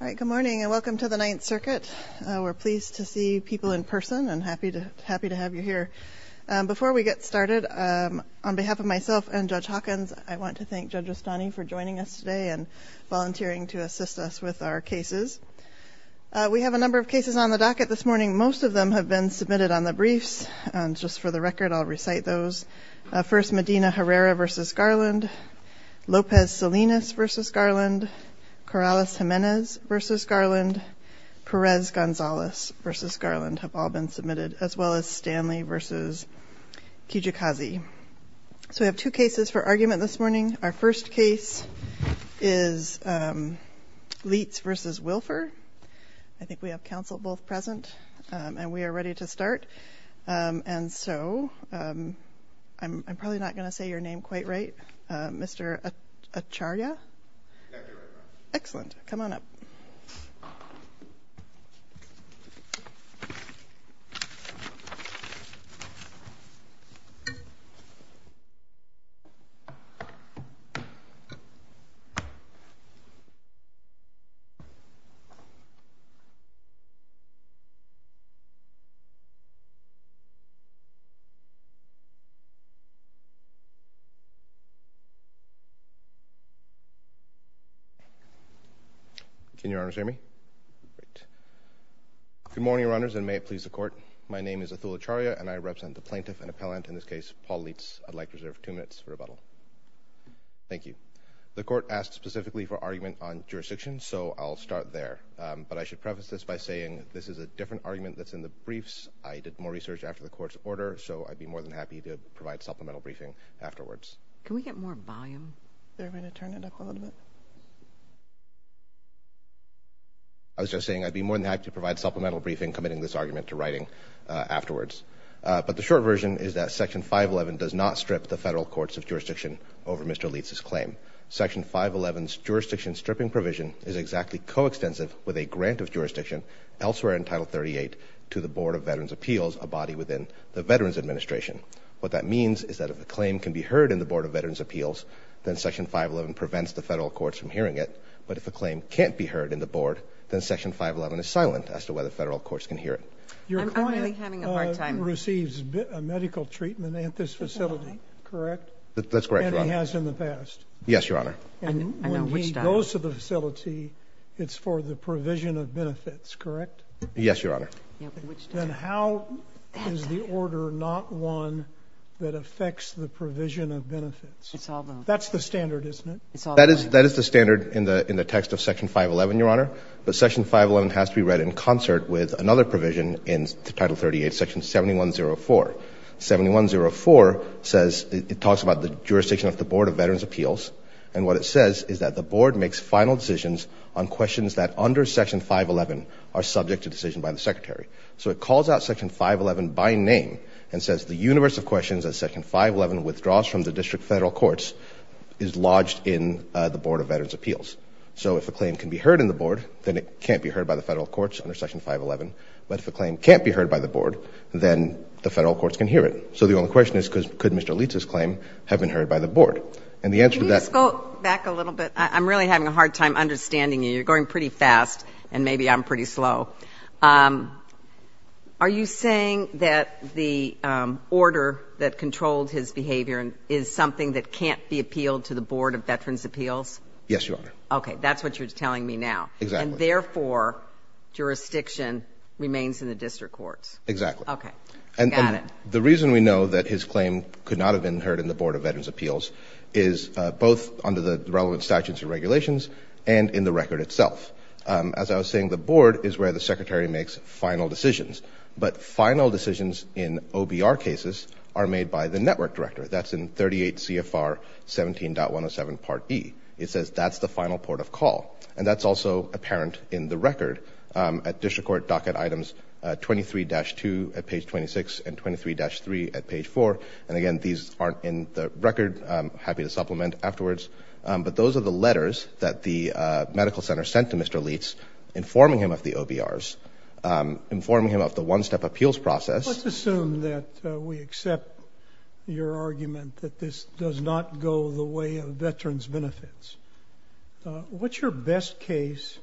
Good morning, and welcome to the Ninth Circuit. We're pleased to see people in person and happy to have you here. Before we get started, on behalf of myself and Judge Hawkins, I want to thank Judge Ostani for joining us today and volunteering to assist us with our cases. We have a number of cases on the docket this morning. Most of them have been submitted on the briefs. Just for the record, I'll recite those. First, Medina Herrera v. Garland. Lopez Salinas v. Garland. Corrales Jimenez v. Garland. Perez Gonzalez v. Garland have all been submitted, as well as Stanley v. Kijikazi. So we have two cases for argument this morning. Our first case is Lietz v. Wilpher. I think we have counsel both present and we are ready to start. And so, I'm probably not going to say your name quite right. Mr. Acharya? Excellent. Come on up. Can your honors hear me? Great. Good morning, your honors, and may it please the court. My name is Atul Acharya and I represent the plaintiff and appellant, in this case, Paul Lietz. I'd like to reserve two minutes for rebuttal. Thank you. The court asked specifically for argument on jurisdiction, so I'll start there. But I should preface this by saying this is a different argument that's in the briefs. I did more research after the court's order, so I'd be more than happy to provide supplemental briefing afterwards. Can we get a little more volume? Is there a way to turn it up a little bit? I was just saying I'd be more than happy to provide supplemental briefing committing this argument to writing afterwards. But the short version is that Section 511 does not strip the federal courts of jurisdiction over Mr. Lietz's claim. Section 511's jurisdiction stripping provision is exactly coextensive with a grant of jurisdiction elsewhere in Title 38 to the Board of Veterans Appeals, a body within the Veterans Administration. What that means is that if a claim can be heard in the Board of Veterans Appeals, then Section 511 prevents the federal courts from hearing it. But if a claim can't be heard in the Board, then Section 511 is silent as to whether federal courts can hear it. Your client receives medical treatment at this facility, correct? That's correct, Your Honor. And he has in the past? Yes, Your Honor. And when he goes to the facility, it's for the provision of benefits, correct? Yes, Your Honor. So it's the order, not one that affects the provision of benefits. That's the standard, isn't it? That is the standard in the text of Section 511, Your Honor. But Section 511 has to be read in concert with another provision in Title 38, Section 7104. 7104 says, it talks about the jurisdiction of the Board of Veterans Appeals. And what it says is that the Board makes final decisions on questions that, under Section 511, are subject to decision by the Secretary. So it calls out Section 511 by name and says, the universe of questions that Section 511 withdraws from the district federal courts is lodged in the Board of Veterans Appeals. So if a claim can be heard in the Board, then it can't be heard by the federal courts under Section 511. But if a claim can't be heard by the Board, then the federal courts can hear it. So the only question is, could Mr. Leitz's claim have been heard by the Board? And the answer to that? Can we just go back a little bit? I'm really having a hard time understanding you. You're going pretty fast, and maybe I'm pretty slow. Are you saying that the order that controlled his behavior is something that can't be appealed to the Board of Veterans Appeals? Yes, Your Honor. Okay. That's what you're telling me now. Exactly. And therefore, jurisdiction remains in the district courts. Exactly. Okay. Got it. And the reason we know that his claim could not have been heard in the Board of Veterans Appeals is both under the relevant statutes and regulations and in the record itself. As I was saying, the Board is where the Secretary makes final decisions. But final decisions in OBR cases are made by the Network Director. That's in 38 CFR 17.107 Part E. It says that's the final port of call. And that's also apparent in the record at District Court Docket Items 23-2 at page 26 and 23-3 at page 4. And again, these aren't in the record. I'm happy to supplement afterwards. But those are the letters that the medical center sent to Mr. Leitz informing him of the OBRs, informing him of the one-step appeals process. Let's assume that we accept your argument that this does not go the way of veterans' benefits. What's your best case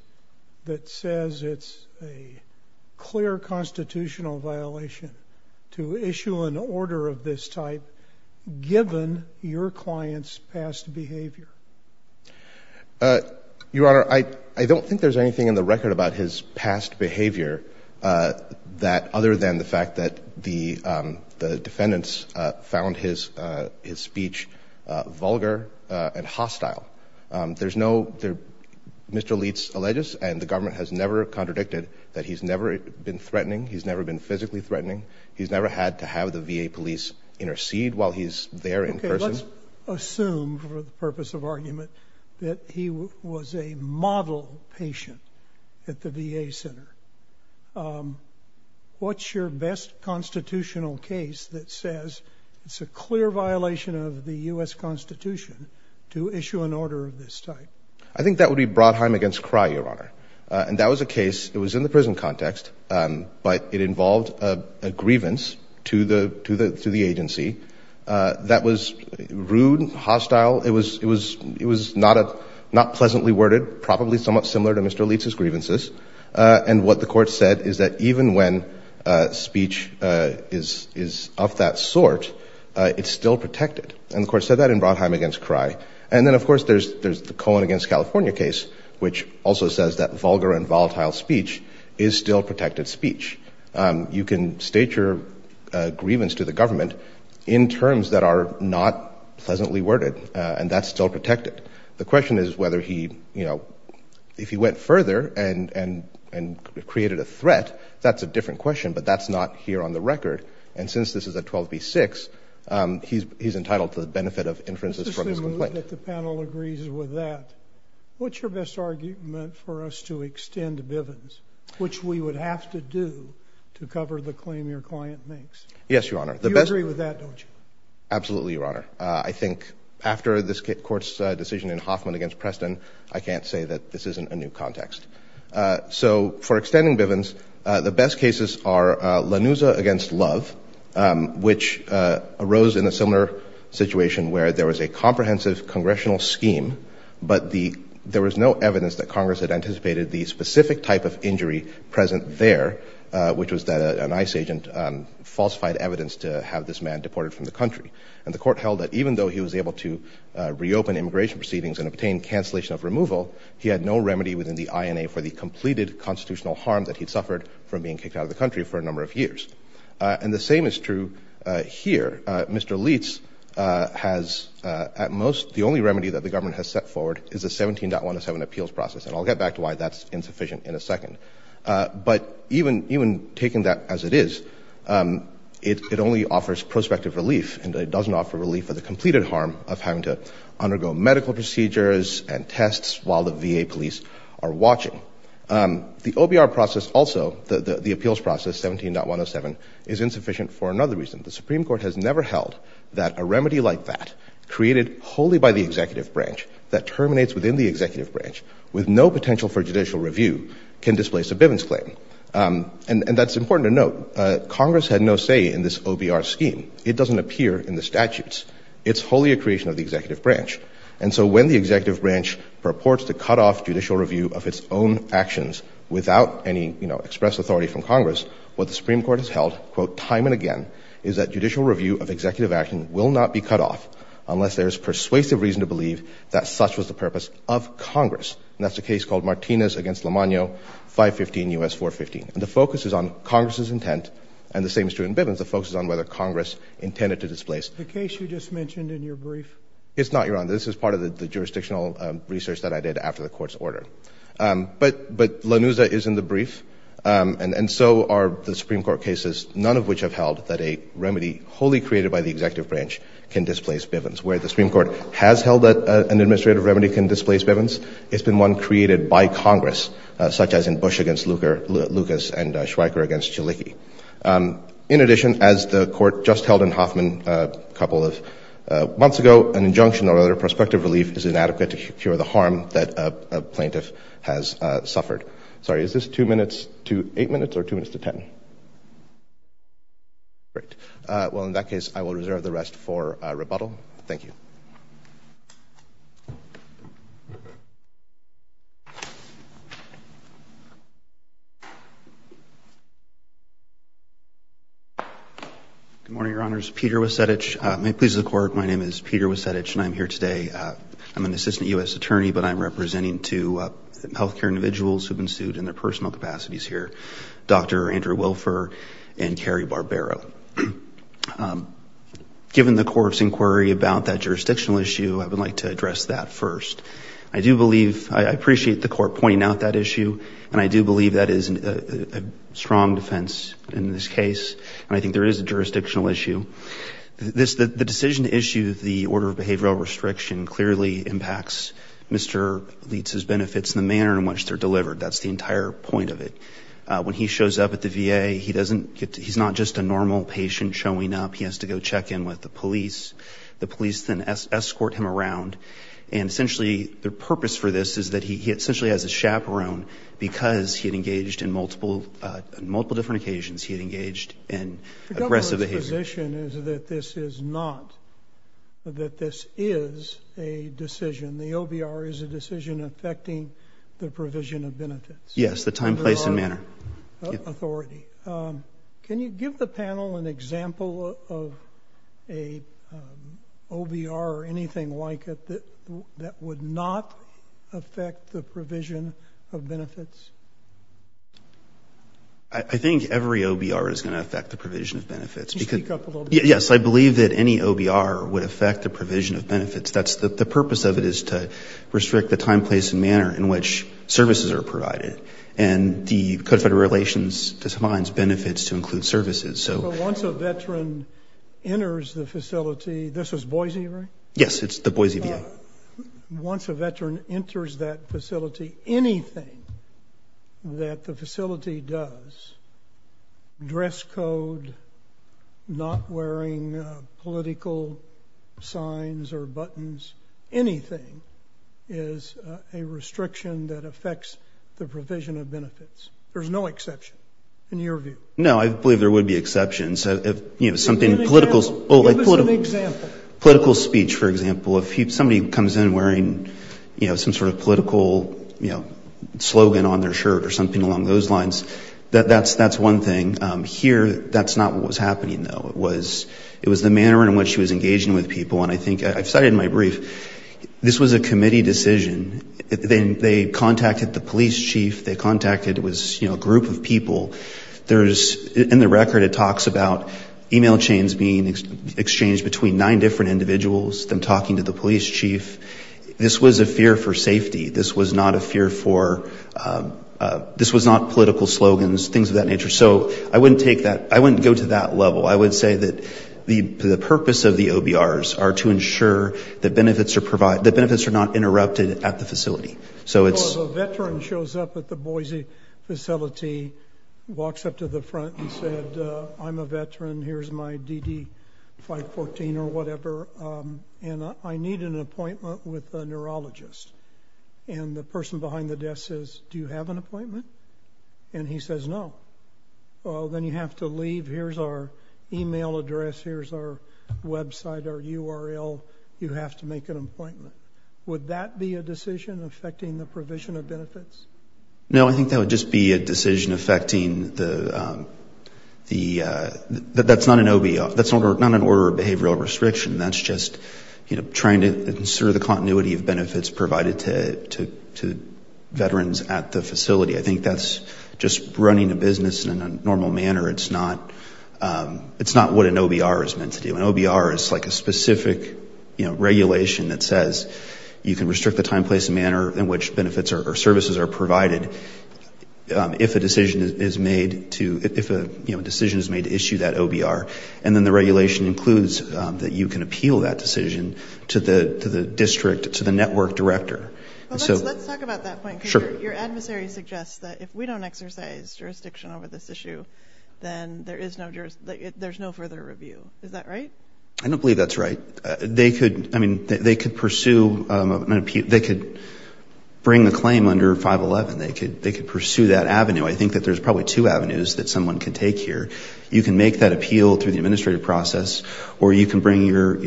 that says it's a clear constitutional violation to issue an order of this type, given your client's past behavior? Your Honor, I don't think there's anything in the record about his past behavior other than the fact that the defendants found his speech vulgar and hostile. There's no — Mr. Leitz alleges, and the government has never contradicted, that he's never been threatening, he's never been physically threatening, he's never had to have the VA police intercede while he's there in person. Okay, let's assume for the purpose of argument that he was a model patient at the VA center. What's your best constitutional case that says it's a clear violation of the U.S. Constitution to issue an order of this type? I think that would be Brodheim v. Cry, Your Honor. And that was a case — it was in the involved a grievance to the agency that was rude, hostile. It was not pleasantly worded, probably somewhat similar to Mr. Leitz's grievances. And what the Court said is that even when speech is of that sort, it's still protected. And the Court said that in Brodheim v. Cry. And then, of course, there's the Cohen v. California case, which also says that vulgar and volatile speech is still protected speech. You can state your grievance to the government in terms that are not pleasantly worded, and that's still protected. The question is whether he — you know, if he went further and created a threat, that's a different question, but that's not here on the record. And since this is a 12 v. 6, he's entitled to the benefit of inferences from his complaint. I hope that the panel agrees with that. What's your best argument for us to extend Bivens, which we would have to do to cover the claim your client makes? Yes, Your Honor. You agree with that, don't you? Absolutely, Your Honor. I think after this Court's decision in Hoffman v. Preston, I can't say that this isn't a new context. So for extending Bivens, the best cases are those that are not in the history of the United States. The case of Richard H. Rose in a similar situation where there was a comprehensive congressional scheme, but the — there was no evidence that Congress had anticipated the specific type of injury present there, which was that an ICE agent falsified evidence to have this man deported from the country. And the Court held that even though he was able to reopen immigration proceedings and obtain cancellation of removal, he had no remedy within the INA for the completed constitutional harm that he'd suffered from being kicked out of the country for a number of years. And the same is true here. Mr. Leitz has at most — the only remedy that the government has set forward is a 17.107 appeals process, and I'll get back to why that's insufficient in a second. But even taking that as it is, it only offers prospective relief and it doesn't offer relief for the completed harm of having to undergo medical procedures and tests while the VA police are watching. The OBR process also, the appeals process, 17.107, is insufficient for another reason. The Supreme Court has never held that a remedy like that, created wholly by the executive branch that terminates within the executive branch with no potential for judicial review, can displace a bivence claim. And that's important to note. Congress had no say in this OBR scheme. It doesn't appear in the statutes. It's wholly a creation of the executive branch. And so when the executive branch purports to cut off judicial review of its own actions without any express authority from Congress, what the Supreme Court has held, quote, time and again, is that judicial review of executive action will not be cut off unless there is persuasive reason to believe that such was the purpose of Congress. And that's the case called Martinez v. Lemano, 515 U.S. 415. And the focus is on Congress's intent, and the same is true in bivence. The focus is on whether Congress intended to displace — The case you just mentioned in your brief — It's not, Your Honor. This is part of the jurisdictional research that I did after the order. But — but LaNuza is in the brief, and so are the Supreme Court cases, none of which have held that a remedy wholly created by the executive branch can displace bivence. Where the Supreme Court has held that an administrative remedy can displace bivence, it's been one created by Congress, such as in Bush v. Lucas and Schweiker v. Jalicki. In addition, as the Court just held in Hoffman a couple of months ago, an injunction or other prospective relief is inadequate to cure the harm that a plaintiff has suffered. Sorry, is this 2 minutes to 8 minutes or 2 minutes to 10? Great. Well, in that case, I will reserve the rest for rebuttal. Thank you. Good morning, Your Honors. Peter Wasedich. May it please the Court, my name is Peter Wasedich, and I'm here today. I'm an assistant U.S. attorney, but I'm representing two health care individuals who have been sued in their personal capacities here, Dr. Andrew Wilfer and Carrie Barbero. Given the Court's inquiry about that jurisdictional issue, I would like to address that first. I do believe — I appreciate the Court pointing out that issue, and I do believe that is a strong defense in this case, and I think there is a jurisdictional issue. The decision to issue the Order of Behavioral Restriction clearly impacts Mr. Leitz's benefits and the manner in which they're delivered. That's the entire point of it. When he shows up at the VA, he doesn't get to — he's not just a normal patient showing up. He has to go check in with the police. The police then escort him around. And essentially, the purpose for this is that he essentially has a chaperone because he had engaged in multiple — on multiple different occasions, he had engaged in aggressive behavior. The government's position is that this is not — that this is a decision. The OBR is a decision affecting the provision of benefits. Yes, the time, place, and manner. Authority. Can you give the panel an example of an OBR or anything like it that would not affect the provision of benefits? I think every OBR is going to affect the provision of benefits. Can you speak up a little bit? Yes, I believe that any OBR would affect the provision of benefits. That's the — the purpose of it is to restrict the time, place, and manner in which services are provided. And the Code of Federal Relations defines benefits to include services, so — But once a veteran enters the facility — this is Boise, right? Yes, it's the Boise VA. Once a veteran enters that facility, anything that the facility does — dress code, not wearing political signs or buttons, anything — is a restriction that affects the provision of benefits. There's no exception, in your view. No, I believe there would be exceptions. Give an example. Give us an example. Political speech, for example, if somebody comes in wearing, you know, some sort of political slogan on their shirt or something along those lines, that's one thing. Here, that's not what was happening, though. It was the manner in which he was engaging with people. And I think — I've cited in my brief, this was a committee decision. They contacted the police chief. They contacted — it was, you know, a group of people. There's — in the record, it talks about email chains being exchanged between nine different individuals, them talking to the police chief. This was a fear for safety. This was not a fear for — this was not political slogans, things of that nature. So I wouldn't take that — I wouldn't go to that level. I would say that the purpose of the OBRs are to ensure that benefits are provided — that benefits are not interrupted at the facility. So it's — Well, if a veteran shows up at the Boise facility, walks up to the front and said, I'm a veteran, here's my DD-514 or whatever, and I need an appointment with a neurologist, and the person behind the desk says, do you have an appointment? And he says no. Well, then you have to leave. Here's our email address. Here's our website, our URL. You have to make an appointment. Would that be a decision affecting the provision of benefits? No, I think that would just be a decision affecting the — that's not an OBR. That's not an order of behavioral restriction. That's just trying to ensure the continuity of benefits provided to veterans at the facility. I think that's just running a business in a normal manner. It's not what an OBR is meant to do. An OBR is like a specific regulation that says you can restrict the time, place, and manner in which benefits or services are provided if a decision is made to — if a decision is made to issue that OBR. And then the regulation includes that you can appeal that decision to the district, to the network director. Let's talk about that point. Sure. Because your adversary suggests that if we don't exercise jurisdiction over this issue, then there is no — there's no further review. Is that right? I don't believe that's right. They could — I mean, they could pursue an — they could bring a claim under 511. They could pursue that avenue. I think that there's probably two avenues that someone could take here. You can make that appeal through the administrative process, or you can bring your — I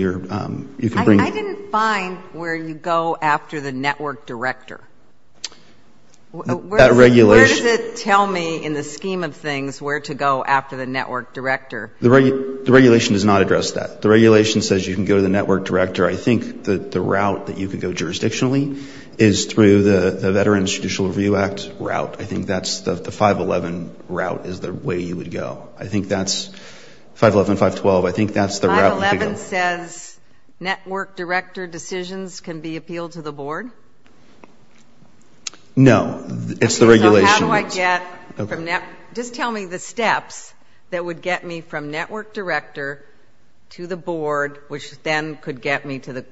didn't find where you go after the network director. That regulation — Where does it tell me in the scheme of things where to go after the network director? The regulation does not address that. The regulation says you can go to the network director. I think that the route that you could go jurisdictionally is through the Veterans Judicial Review Act route. I think that's the 511 route is the way you would go. I think that's — 511, 512, I think that's the route you could go. 511 says network director decisions can be appealed to the board? No. It's the regulation. Okay, so how do I get from — just tell me the steps that would get me from network director to the board, which then could get me to the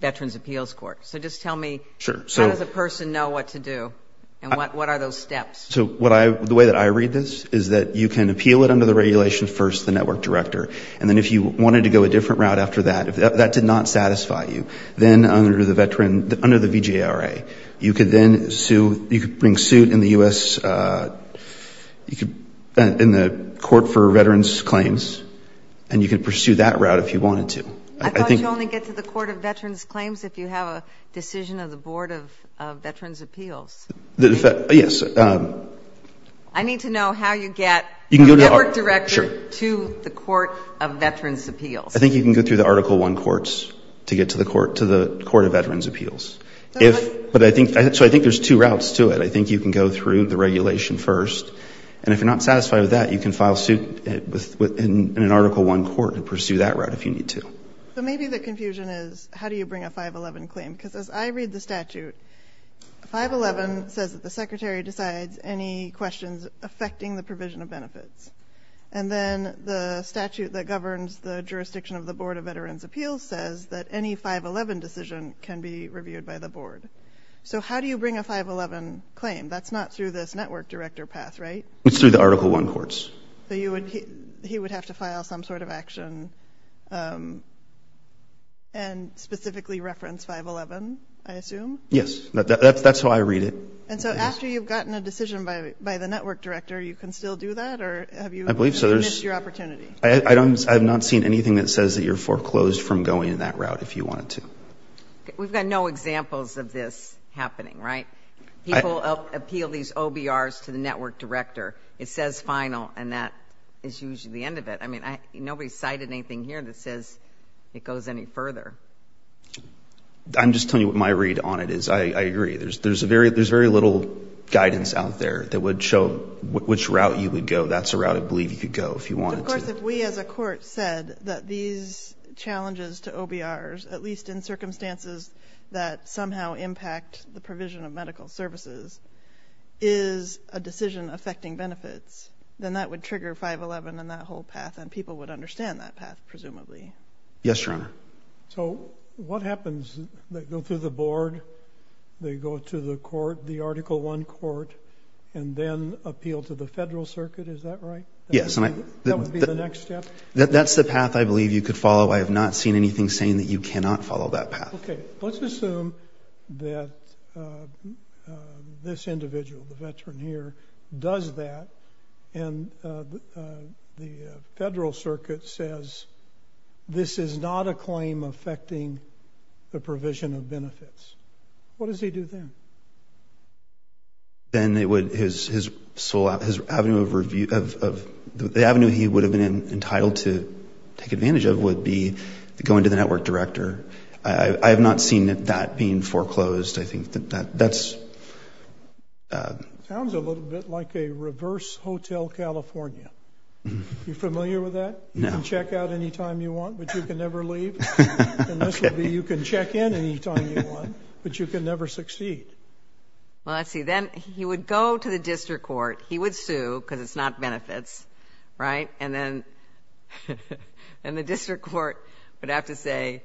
Veterans Appeals Court. So just tell me how does a person know what to do, and what are those steps? So what I — the way that I read this is that you can appeal it under the regulation first, the network director, and then if you wanted to go a different route after that, if that did not satisfy you, then under the veteran — under the VJRA, you could then sue — you could bring suit in the U.S. — in the Court for Veterans Claims, and you could pursue that route if you wanted to. I thought you only get to the Court of Veterans Claims if you have a decision of the Board of Veterans Appeals. Yes. I need to know how you get from network director to the Court of Veterans Appeals. I think you can go through the Article I courts to get to the Court of Veterans Appeals. But I think — so I think there's two routes to it. I think you can go through the regulation first, and if you're not satisfied with that, you can file suit in an Article I court and pursue that route if you need to. So maybe the confusion is how do you bring a 511 claim? Because as I read the statute, 511 says that the secretary decides any questions affecting the provision of benefits. And then the statute that governs the jurisdiction of the Board of Veterans Appeals says that any 511 decision can be reviewed by the board. So how do you bring a 511 claim? That's not through this network director path, right? It's through the Article I courts. So you would — he would have to file some sort of action and specifically reference 511, I assume? Yes. That's how I read it. And so after you've gotten a decision by the network director, you can still do that, or have you missed your opportunity? I believe so. I have not seen anything that says that you're foreclosed from going that route if you wanted to. We've got no examples of this happening, right? People appeal these OBRs to the network director. It says final, and that is usually the end of it. I mean, nobody's cited anything here that says it goes any further. I'm just telling you what my read on it is. I agree. There's very little guidance out there that would show which route you would go. That's the route I believe you could go if you wanted to. Of course, if we as a court said that these challenges to OBRs, at least in circumstances that somehow impact the provision of medical services, is a decision affecting benefits, then that would trigger 511 and that whole path, and people would understand that path, presumably. Yes, Your Honor. So what happens? They go through the board, they go to the court, the Article I court, and then appeal to the federal circuit, is that right? Yes. That would be the next step? That's the path I believe you could follow. I have not seen anything saying that you cannot follow that path. Okay. But let's assume that this individual, the veteran here, does that, and the federal circuit says this is not a claim affecting the provision of benefits. What does he do then? Then his sole avenue of review, the avenue he would have been entitled to take advantage of would be going to the network director. I have not seen that being foreclosed. I think that's... Sounds a little bit like a reverse Hotel California. Are you familiar with that? No. You can check out any time you want, but you can never leave. And this would be you can check in any time you want, but you can never succeed. Well, let's see. Then he would go to the district court. He would sue because it's not benefits, right? And then the district court would have to say,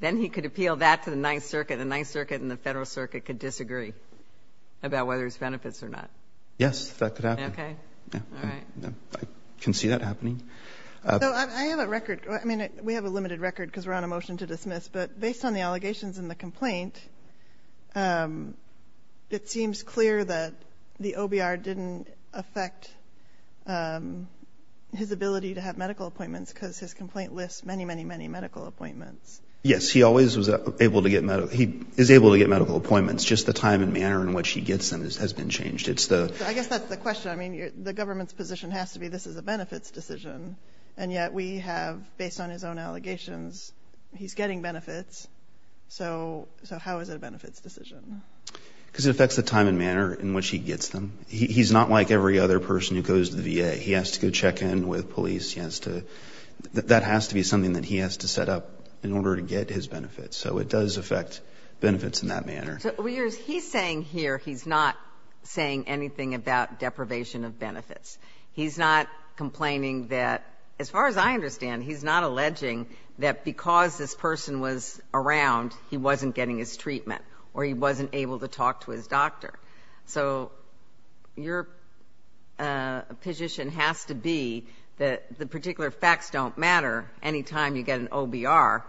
then he could appeal that to the Ninth Circuit. The Ninth Circuit and the federal circuit could disagree about whether it's benefits or not. Yes, that could happen. Okay. All right. I can see that happening. I have a record. I mean, we have a limited record because we're on a motion to dismiss. But based on the allegations in the complaint, it seems clear that the OBR didn't affect his ability to have medical appointments because his complaint lists many, many, many medical appointments. Yes, he always is able to get medical appointments. Just the time and manner in which he gets them has been changed. I guess that's the question. I mean, the government's position has to be this is a benefits decision. And yet we have, based on his own allegations, he's getting benefits. So how is it a benefits decision? Because it affects the time and manner in which he gets them. He's not like every other person who goes to the VA. He has to go check in with police. That has to be something that he has to set up in order to get his benefits. So it does affect benefits in that manner. So what he's saying here, he's not saying anything about deprivation of benefits. He's not complaining that, as far as I understand, he's not alleging that because this person was around, he wasn't getting his treatment or he wasn't able to talk to his doctor. So your position has to be that the particular facts don't matter. Anytime you get an OBR,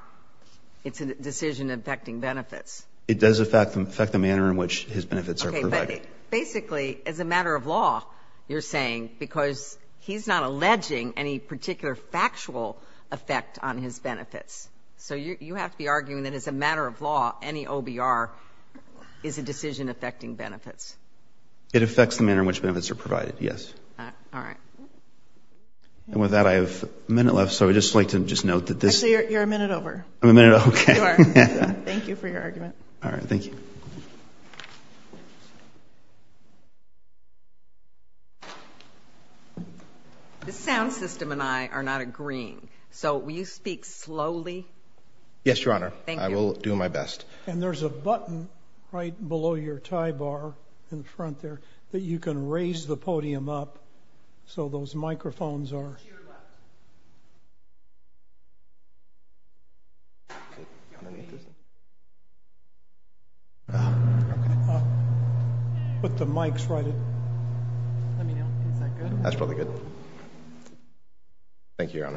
it's a decision affecting benefits. It does affect the manner in which his benefits are provided. Okay, but basically, as a matter of law, you're saying, because he's not alleging any particular factual effect on his benefits. So you have to be arguing that as a matter of law, any OBR is a decision affecting benefits. It affects the manner in which benefits are provided, yes. All right. And with that, I have a minute left, so I'd just like to just note that this ‑‑ Actually, you're a minute over. I'm a minute over? You are. All right. Thank you for your argument. All right. Thank you. The sound system and I are not agreeing, so will you speak slowly? Yes, Your Honor. Thank you. I will do my best. And there's a button right below your tie bar in front there that you can raise the podium up So those microphones are ‑‑ Put the mics right in. Let me know. Is that good? That's probably good. Thank you, Your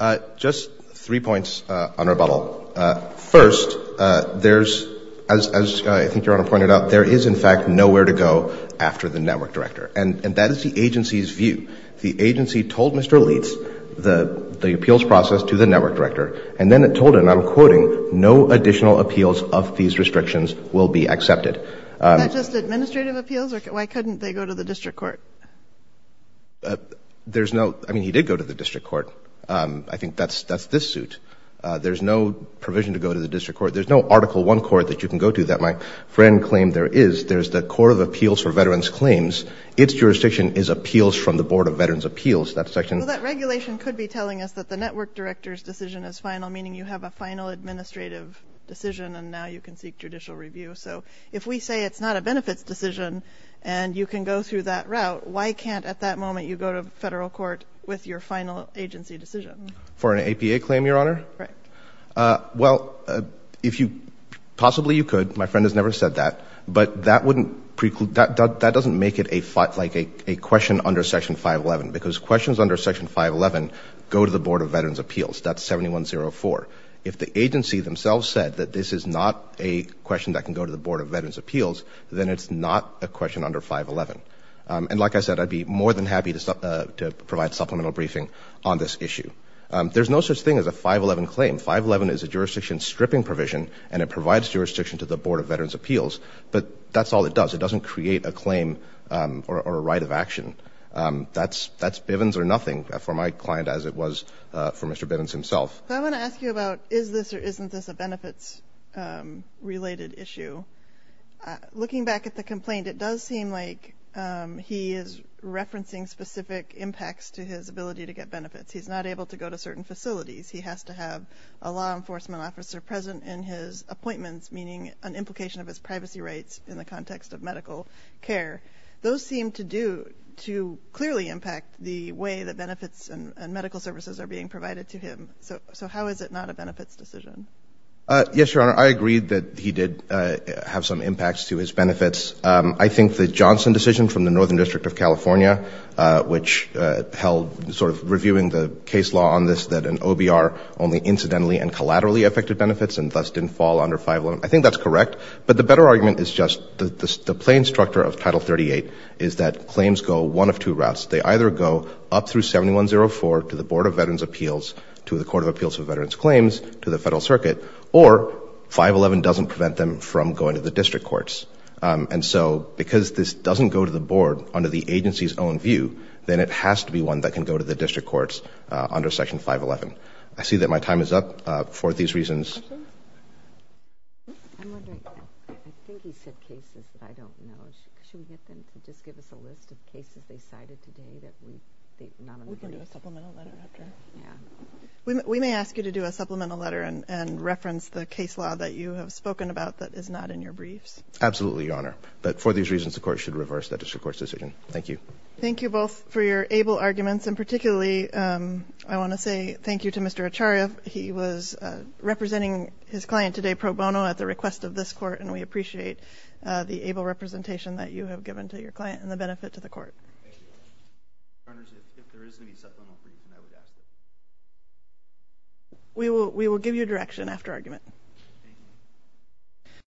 Honor. Just three points on rebuttal. First, there's, as I think Your Honor pointed out, there is, in fact, nowhere to go after the network director. And that is the agency's view. The agency told Mr. Leitz the appeals process to the network director, and then it told him, and I'm quoting, no additional appeals of these restrictions will be accepted. Is that just administrative appeals? Why couldn't they go to the district court? There's no ‑‑ I mean, he did go to the district court. I think that's this suit. There's no provision to go to the district court. There's no Article I court that you can go to that my friend claimed there is. There's the Court of Appeals for Veterans Claims. Its jurisdiction is appeals from the Board of Veterans' Appeals. That section ‑‑ Well, that regulation could be telling us that the network director's decision is final, meaning you have a final administrative decision, and now you can seek judicial review. So if we say it's not a benefits decision and you can go through that route, why can't at that moment you go to federal court with your final agency decision? For an APA claim, Your Honor? Correct. Well, if you ‑‑ possibly you could. My friend has never said that. But that wouldn't ‑‑ that doesn't make it a question under Section 511 because questions under Section 511 go to the Board of Veterans' Appeals. That's 7104. If the agency themselves said that this is not a question that can go to the Board of Veterans' Appeals, then it's not a question under 511. And like I said, I'd be more than happy to provide supplemental briefing on this issue. There's no such thing as a 511 claim. 511 is a jurisdiction stripping provision, and it provides jurisdiction to the Board of Veterans' Appeals. But that's all it does. It doesn't create a claim or a right of action. That's Bivens or nothing for my client as it was for Mr. Bivens himself. I want to ask you about is this or isn't this a benefits-related issue. Looking back at the complaint, it does seem like he is referencing specific impacts to his ability to get benefits. He's not able to go to certain facilities. He has to have a law enforcement officer present in his appointments, meaning an implication of his privacy rights in the context of medical care. Those seem to clearly impact the way that benefits and medical services are being provided to him. So how is it not a benefits decision? Yes, Your Honor, I agree that he did have some impacts to his benefits. I think that's correct. But the better argument is just the plain structure of Title 38 is that claims go one of two routes. They either go up through 7104 to the Board of Veterans' Appeals, to the Court of Appeals for Veterans' Claims, to the Federal Circuit, or 511 doesn't prevent them from going to the district courts. And so because this doesn't go to the board under the agency's own view, then it has to be one that can go to the district courts under Section 511. I see that my time is up for these reasons. Questions? I'm wondering, I think he said cases, but I don't know. Should we get them to just give us a list of cases they cited today that we've not included? We can do a supplemental letter after. Yeah. We may ask you to do a supplemental letter and reference the case law that you have spoken about that is not in your briefs. Absolutely, Your Honor. But for these reasons, the Court should reverse that district court's decision. Thank you. Thank you both for your able arguments, and particularly I want to say thank you to Mr. Acharya. He was representing his client today pro bono at the request of this Court, and we appreciate the able representation that you have given to your client and the benefit to the Court. Thank you. Your Honor, if there is any supplemental brief, then I would ask it. We will give you direction after argument. Thank you.